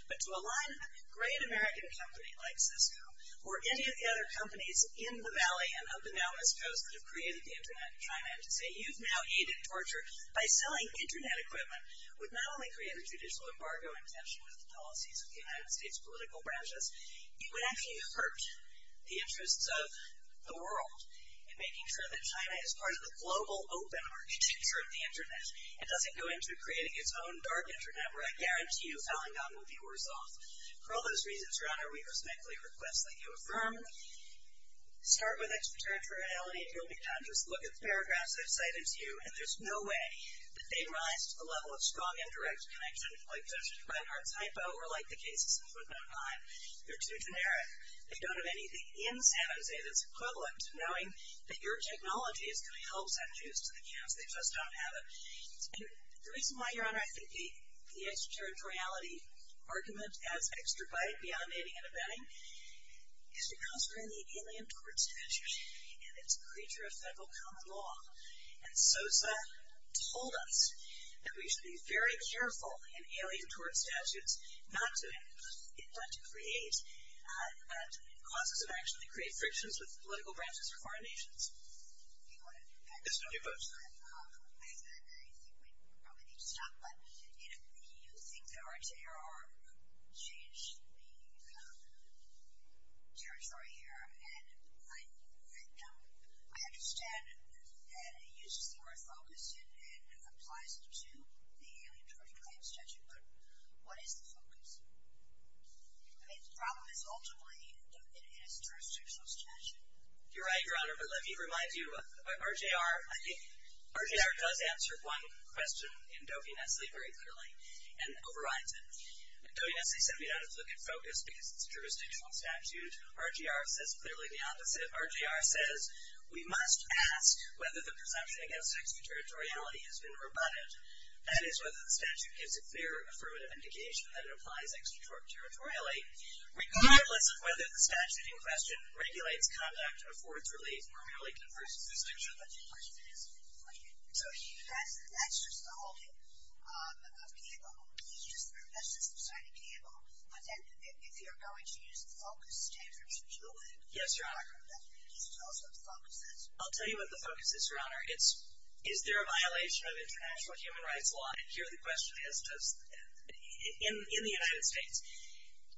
But to align a great American company like Cisco or any of the other companies in the valley and up in the outermost coast that have created the Internet in China and to say you've now aided torture by selling Internet equipment would not only create a judicial embargo in connection with the policies of the United States political branches, it would actually hurt the interests of the world in making sure that China is part of the global open market future of the Internet and doesn't go into creating its own dark Internet where I guarantee you Falun Gong would be worse off. For all those reasons, Your Honor, we respectfully request that you affirm. Start with extraterritoriality and you'll be conscious. Look at the paragraphs I've cited to you, and there's no way that they rise to the level of strong indirect connection like just Reinhardt's hypo or like the cases in Fortnightline. They're too generic. They don't have anything in San Jose that's equivalent knowing that your technology is going to help send juice to the camps. They just don't have it. And the reason why, Your Honor, I think the extraterritoriality argument adds extra bite beyond aiding and abetting is because we're in the alien torture issue, and it's a creature of federal common law. And SOSA told us that we should be very careful in alien torture statutes not to create causes of action that create frictions with political branches or foreign nations. Do you want to add to that? Yes, Your Honor. I think we probably need to stop, but you think the RTR changed the territory here, and I understand that it uses the word focus and applies it to the alien torture claim statute, but what is the focus? I mean, the problem is ultimately it is a jurisdictional statute. You're right, Your Honor, but let me remind you, RTR does answer one question in Doe v. Nestle very clearly and overrides it. Doe v. Nestle said we don't have to look at focus because it's a jurisdictional statute. RTR says clearly the opposite. RTR says we must ask whether the presumption against extraterritoriality has been rebutted, that is whether the statute gives a clear affirmative indication that it applies extraterritorially, regardless of whether the statute in question regulates conduct, affords relief, or merely confers a distinction. So that's just the holding of cable. That's just the signing of cable. But then if you're going to use the focus standard to do it, then you need to tell us what the focus is. I'll tell you what the focus is, Your Honor. It's is there a violation of international human rights law? And here the question is, in the United States,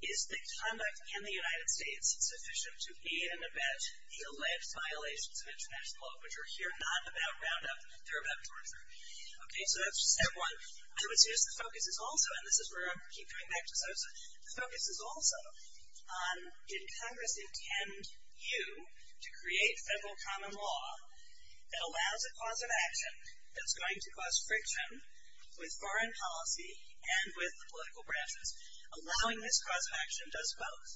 is the conduct in the United States sufficient to be an event to lift violations of international law, which are here not about roundup. They're about torture. Okay, so that's step one. I would say the focus is also, and this is where I keep going back to Sosa, the focus is also on, did Congress intend you to create federal common law that allows a cause of action that's going to cause friction with foreign policy and with the political branches? Allowing this cause of action does both,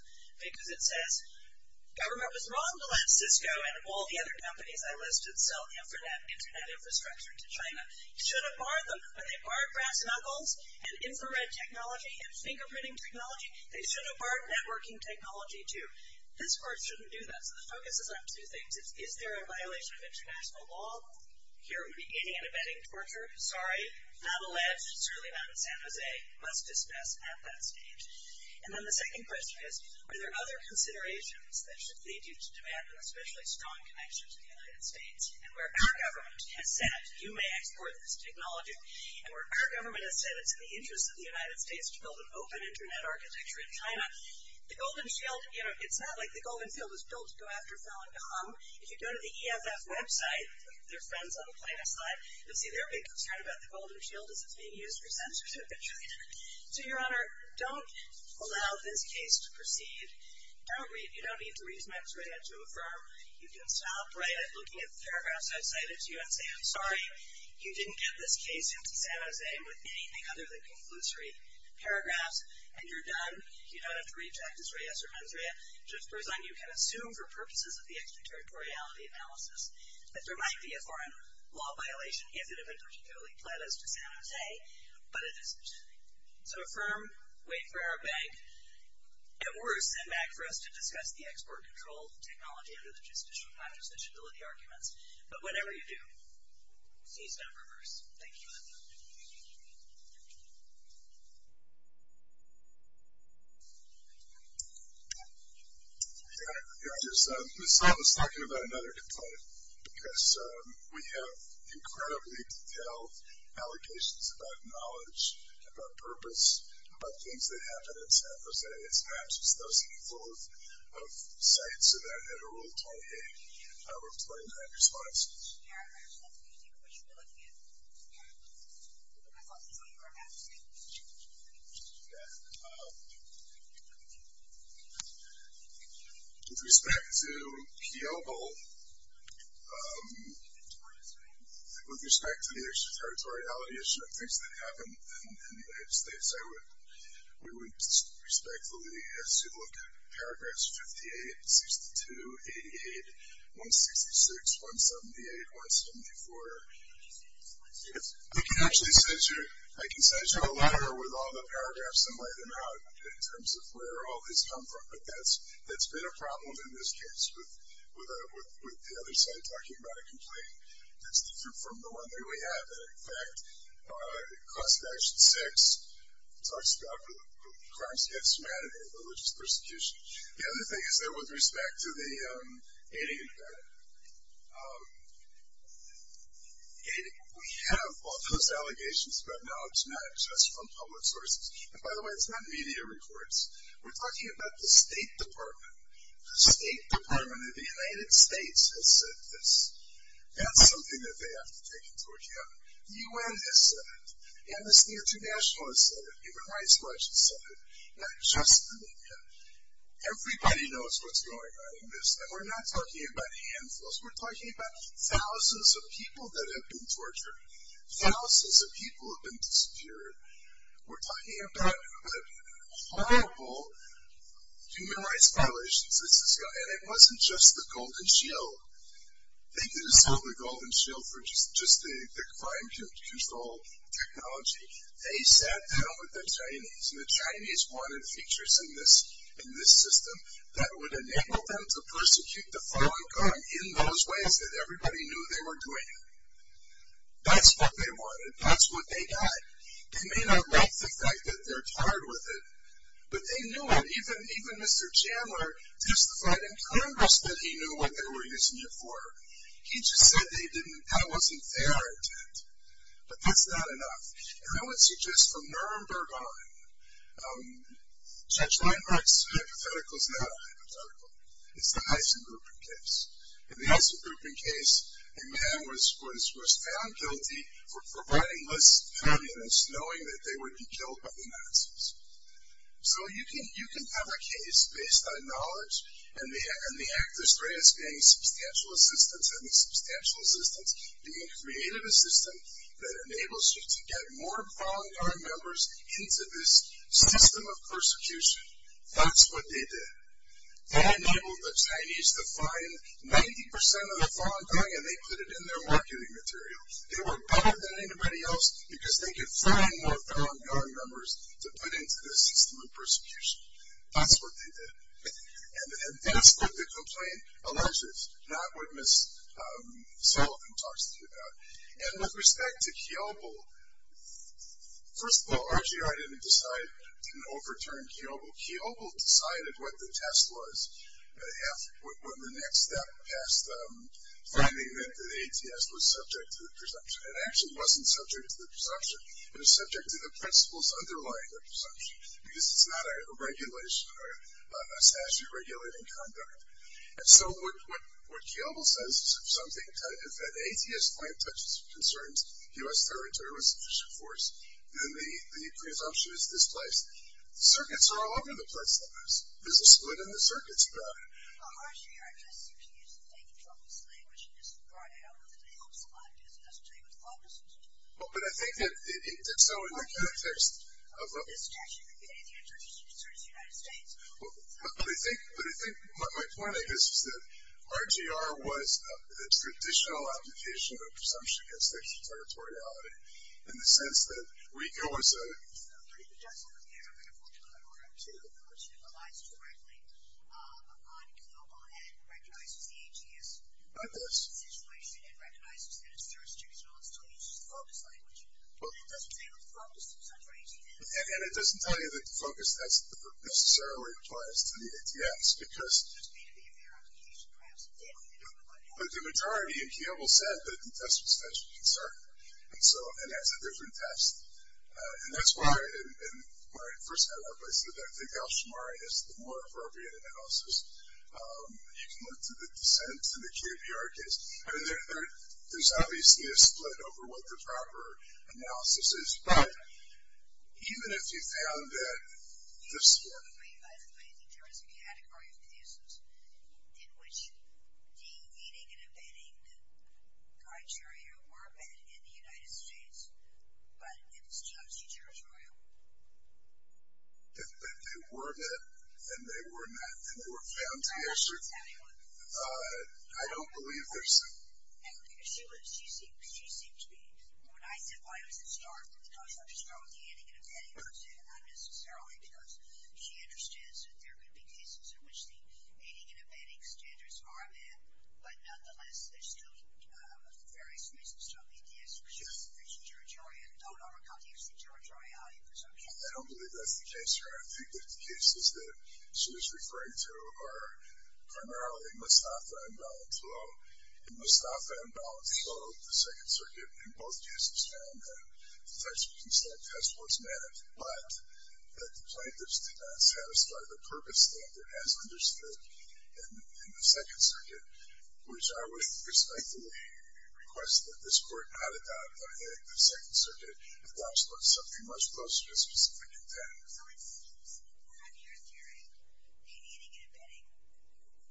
because it says government was wrong to let Cisco and all the other companies I listed sell internet infrastructure to China. You should have barred them. When they barred brass knuckles and infrared technology and fingerprinting technology, they should have barred networking technology, too. This Court shouldn't do that. So the focus is on two things. It's is there a violation of international law? Here we're beginning an event of torture. Sorry. Not alleged. Certainly not in San Jose. Must dismiss at that stage. And then the second question is, are there other considerations that should lead you to demand an especially strong connection to the United States? And where our government has said, you may export this technology, and where our government has said it's in the interest of the United States to build an open internet architecture in China, the Golden Shield, you know, it's not like the Golden Shield was built to go after Falun Gong. If you go to the EFF website, their friends on the plaintiff's side, you'll see they're being concerned about the Golden Shield as it's being used for censorship in China. So, Your Honor, don't allow this case to proceed. Don't read. You don't need to read Max Rea to affirm. You can stop Rea looking at the paragraphs I've cited to you and say, I'm sorry, you didn't get this case into San Jose with anything other than conclusory paragraphs, and you're done. You don't have to read Jack D'Souza or Manzrea. Judge Berzon, you can assume, for purposes of the extraterritoriality analysis, that there might be a foreign law violation, if it had been particularly pledged to San Jose, but it isn't. So affirm, wait for our bank. At worst, send back for us to discuss the export control technology under the justicial contradictibility arguments. But whatever you do, cease and reverse. Thank you, Your Honor. Your Honor, I just thought I was talking about another complaint, because we have incredibly detailed allocations about knowledge, about purpose, about things that happen in San Jose. It's perhaps just those people of sight, so that had a role to play in that response. With respect to Pioble, with respect to the extraterritoriality issue of things that happen in the United States, we would respectfully assume, look, paragraphs 58, 62, 88, 166, 178, 174. I can send you a letter with all the paragraphs and lay them out in terms of where all these come from, but that's been a problem in this case, with the other side talking about a complaint that's different from the one that we have. In fact, Clause of Action 6 talks about crimes against humanity, religious persecution. The other thing is that with respect to the aiding and abetting, we have all those allegations about knowledge not accessed from public sources. And by the way, it's not media reports. We're talking about the State Department. The State Department of the United States has said this. That's something that they have to take into account. The U.N. has said it. Amnesty International has said it. Human Rights Watch has said it. Not just the media. Everybody knows what's going on in this. And we're not talking about handfuls. We're talking about thousands of people that have been tortured. Thousands of people have been disappeared. We're talking about horrible human rights violations. And it wasn't just the Golden Shield. They didn't sell the Golden Shield for just the crime control technology. They sat down with the Chinese, and the Chinese wanted features in this system that would enable them to persecute the fallen God in those ways that everybody knew they were doing. That's what they wanted. That's what they got. They may not like the fact that they're tired with it, but they knew it. Even Mr. Chandler testified in Congress that he knew what they were using it for. He just said that wasn't their intent. But that's not enough. And I would suggest from Nuremberg on, Judge Weinberg's hypothetical is not a hypothetical. It's the Heisengrupen case. In the Heisengrupen case, a man was found guilty for providing lists of communists knowing that they would be killed by the Nazis. So you can have a case based on knowledge, and the act of Straus being substantial assistance and the substantial assistance being creative assistance that enables you to get more fallen God members into this system of persecution. That's what they did. They enabled the Chinese to find 90% of the fallen God, and they put it in their marketing material. They were better than anybody else because they could find more fallen God members to put into this system of persecution. That's what they did. And that's what the complaint alleges, not what Ms. Sullivan talks to you about. And with respect to Kiobel, first of all, RGI didn't decide, didn't overturn Kiobel. Kiobel decided what the test was when the next step past finding meant that ATS was subject to the presumption. It actually wasn't subject to the presumption. It was subject to the principles underlying the presumption because it's not a regulation or a statute regulating conduct. And so what Kiobel says is if something, if an ATS plant touches or concerns U.S. territory with sufficient force, then the presumption is displaced. Circuits are all over the place. There's a split in the circuits about it. Well, RGI just seems to use fake Trump's language. It isn't right. I don't know if it helps a lot of business, but I think that so in the context of the discussion, the answer is it concerns the United States. But I think my point, I guess, is that RGR was a traditional application of a presumption against territoriality in the sense that we go as a country. So the presumption relies directly on Kiobel and recognizes the ATS situation and recognizes that it's jurisdictional and still uses the FOCUS language. But it doesn't say what the FOCUS is under ATS. And it doesn't tell you that the FOCUS test necessarily applies to the ATS because the majority in Kiobel said that the test was special concern. And so, and that's a different test. And that's why in my first head up, I said that I think Al-Shamarian is the more appropriate analysis. You can look to the dissent in the Kiobel case. I mean, there's obviously a split over what the proper analysis is. But even if you found that this work. I think there is a category of cases in which de-leading and abetting criteria were met in the United States. But it's still a judiciary. If they were met and they were found to be assertive, I don't believe there's a. She seemed to be. When I said why it was a start, it was because I'm just going with the aiding and abetting person, not necessarily because she understands that there could be cases in which the aiding and abetting standards are met. But nonetheless, there's still various reasons to obey the ATS in the case. I don't believe that's the case here. I think that the cases that she was referring to are primarily Mustafa and Balintulo. In Mustafa and Balintulo, the Second Circuit, in both cases found that the textual consent test was met. But the plaintiffs did not satisfy the purpose standard as understood in the Second Circuit, which I would respectfully request that this court not adopt by the Second Circuit. The clause looks something much closer to specific intent. So it seems, according to your theory, de-leading and abetting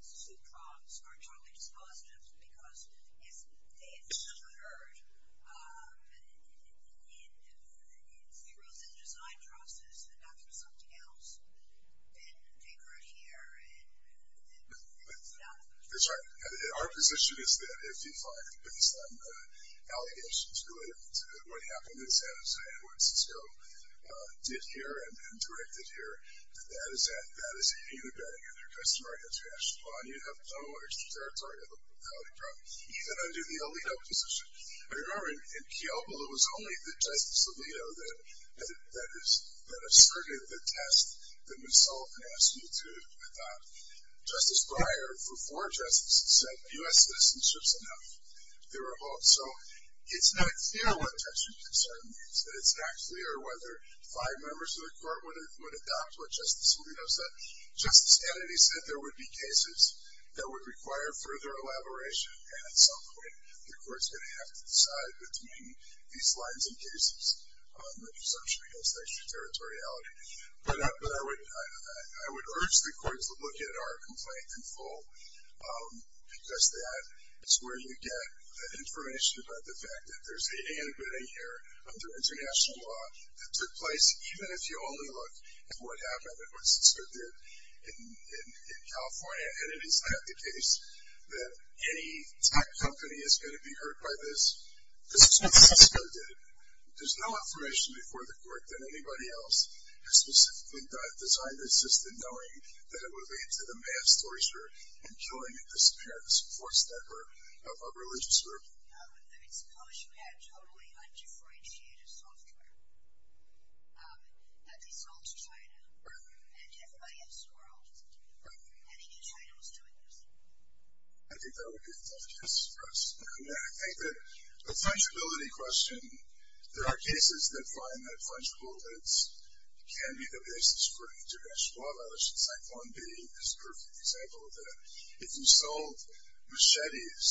suproms are totally dispositive because if they had not been heard, it erodes in the design process and not through something else. And they grew here and stuff. That's right. And our position is that if you find some allegations related to what happened in San Jose and what Cisco did here and directed here, that is abetting under customary international law. And you have no extra territory of the propriety trial, even under the Alito position. I remember in Kiobo, it was only the Justice Alito that asserted the test that Ms. Sullivan asked me to adopt. Justice Breyer, for four justices, said U.S. citizenship's enough. There were hopes. So it's not clear what textual consent means. It's not clear whether five members of the court would adopt what Justice Alito said. Justice Kennedy said there would be cases that would require further elaboration. And at some point, the court's going to have to decide between these lines and cases on the presumption against extra territoriality. But I would urge the court to look at our complaint in full, because that is where you get the information about the fact that there's a abetting here under international law that took place, even if you only look at what happened and what Cisco did in California. And it is not the case that any tech company is going to be hurt by this. This is what Cisco did. There's no information before the court than anybody else. And specifically, God designed this system knowing that it would lead to the mass torture and killing and disappearance of a religious group. Suppose you had totally undifferentiated software that they sold to China. And everybody else swirled. And they knew China was doing this. I think that would be a good point to express. And I think that the fungibility question, there are cases that find that fungible bits can be the basis for international law violations, like one being this perfect example of that. If you sold machetes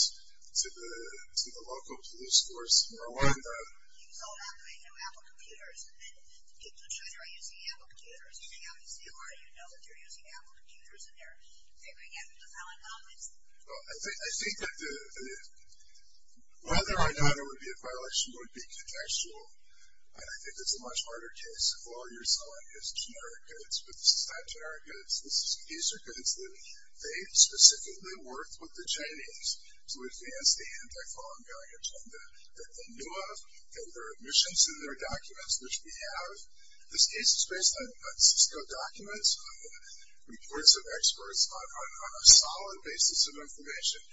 to the local police force in Rwanda. You sold out to a group of Apple computers, and then people on Twitter are using Apple computers. You hang out with CR, you know that they're using Apple computers, and they're figuring out who the hell in hell is. Well, I think that whether or not it would be a violation would be contextual. And I think it's a much harder case if all you're selling is generic goods. But this is not generic goods. These are goods that they specifically worked with the Chinese to advance the anti-fungibility agenda that they knew of. And there are admissions in their documents, which we have. This case is based on Cisco documents, reports of experts on a solid basis of information, such as something that is not used by merchants. So I hope that the court will find that these allegations are sufficient to overcome this facility. Thank you. Thank you. Thank you both very much. Thank you. Thank you. Thank you. Thank you. Thank you. Thank you.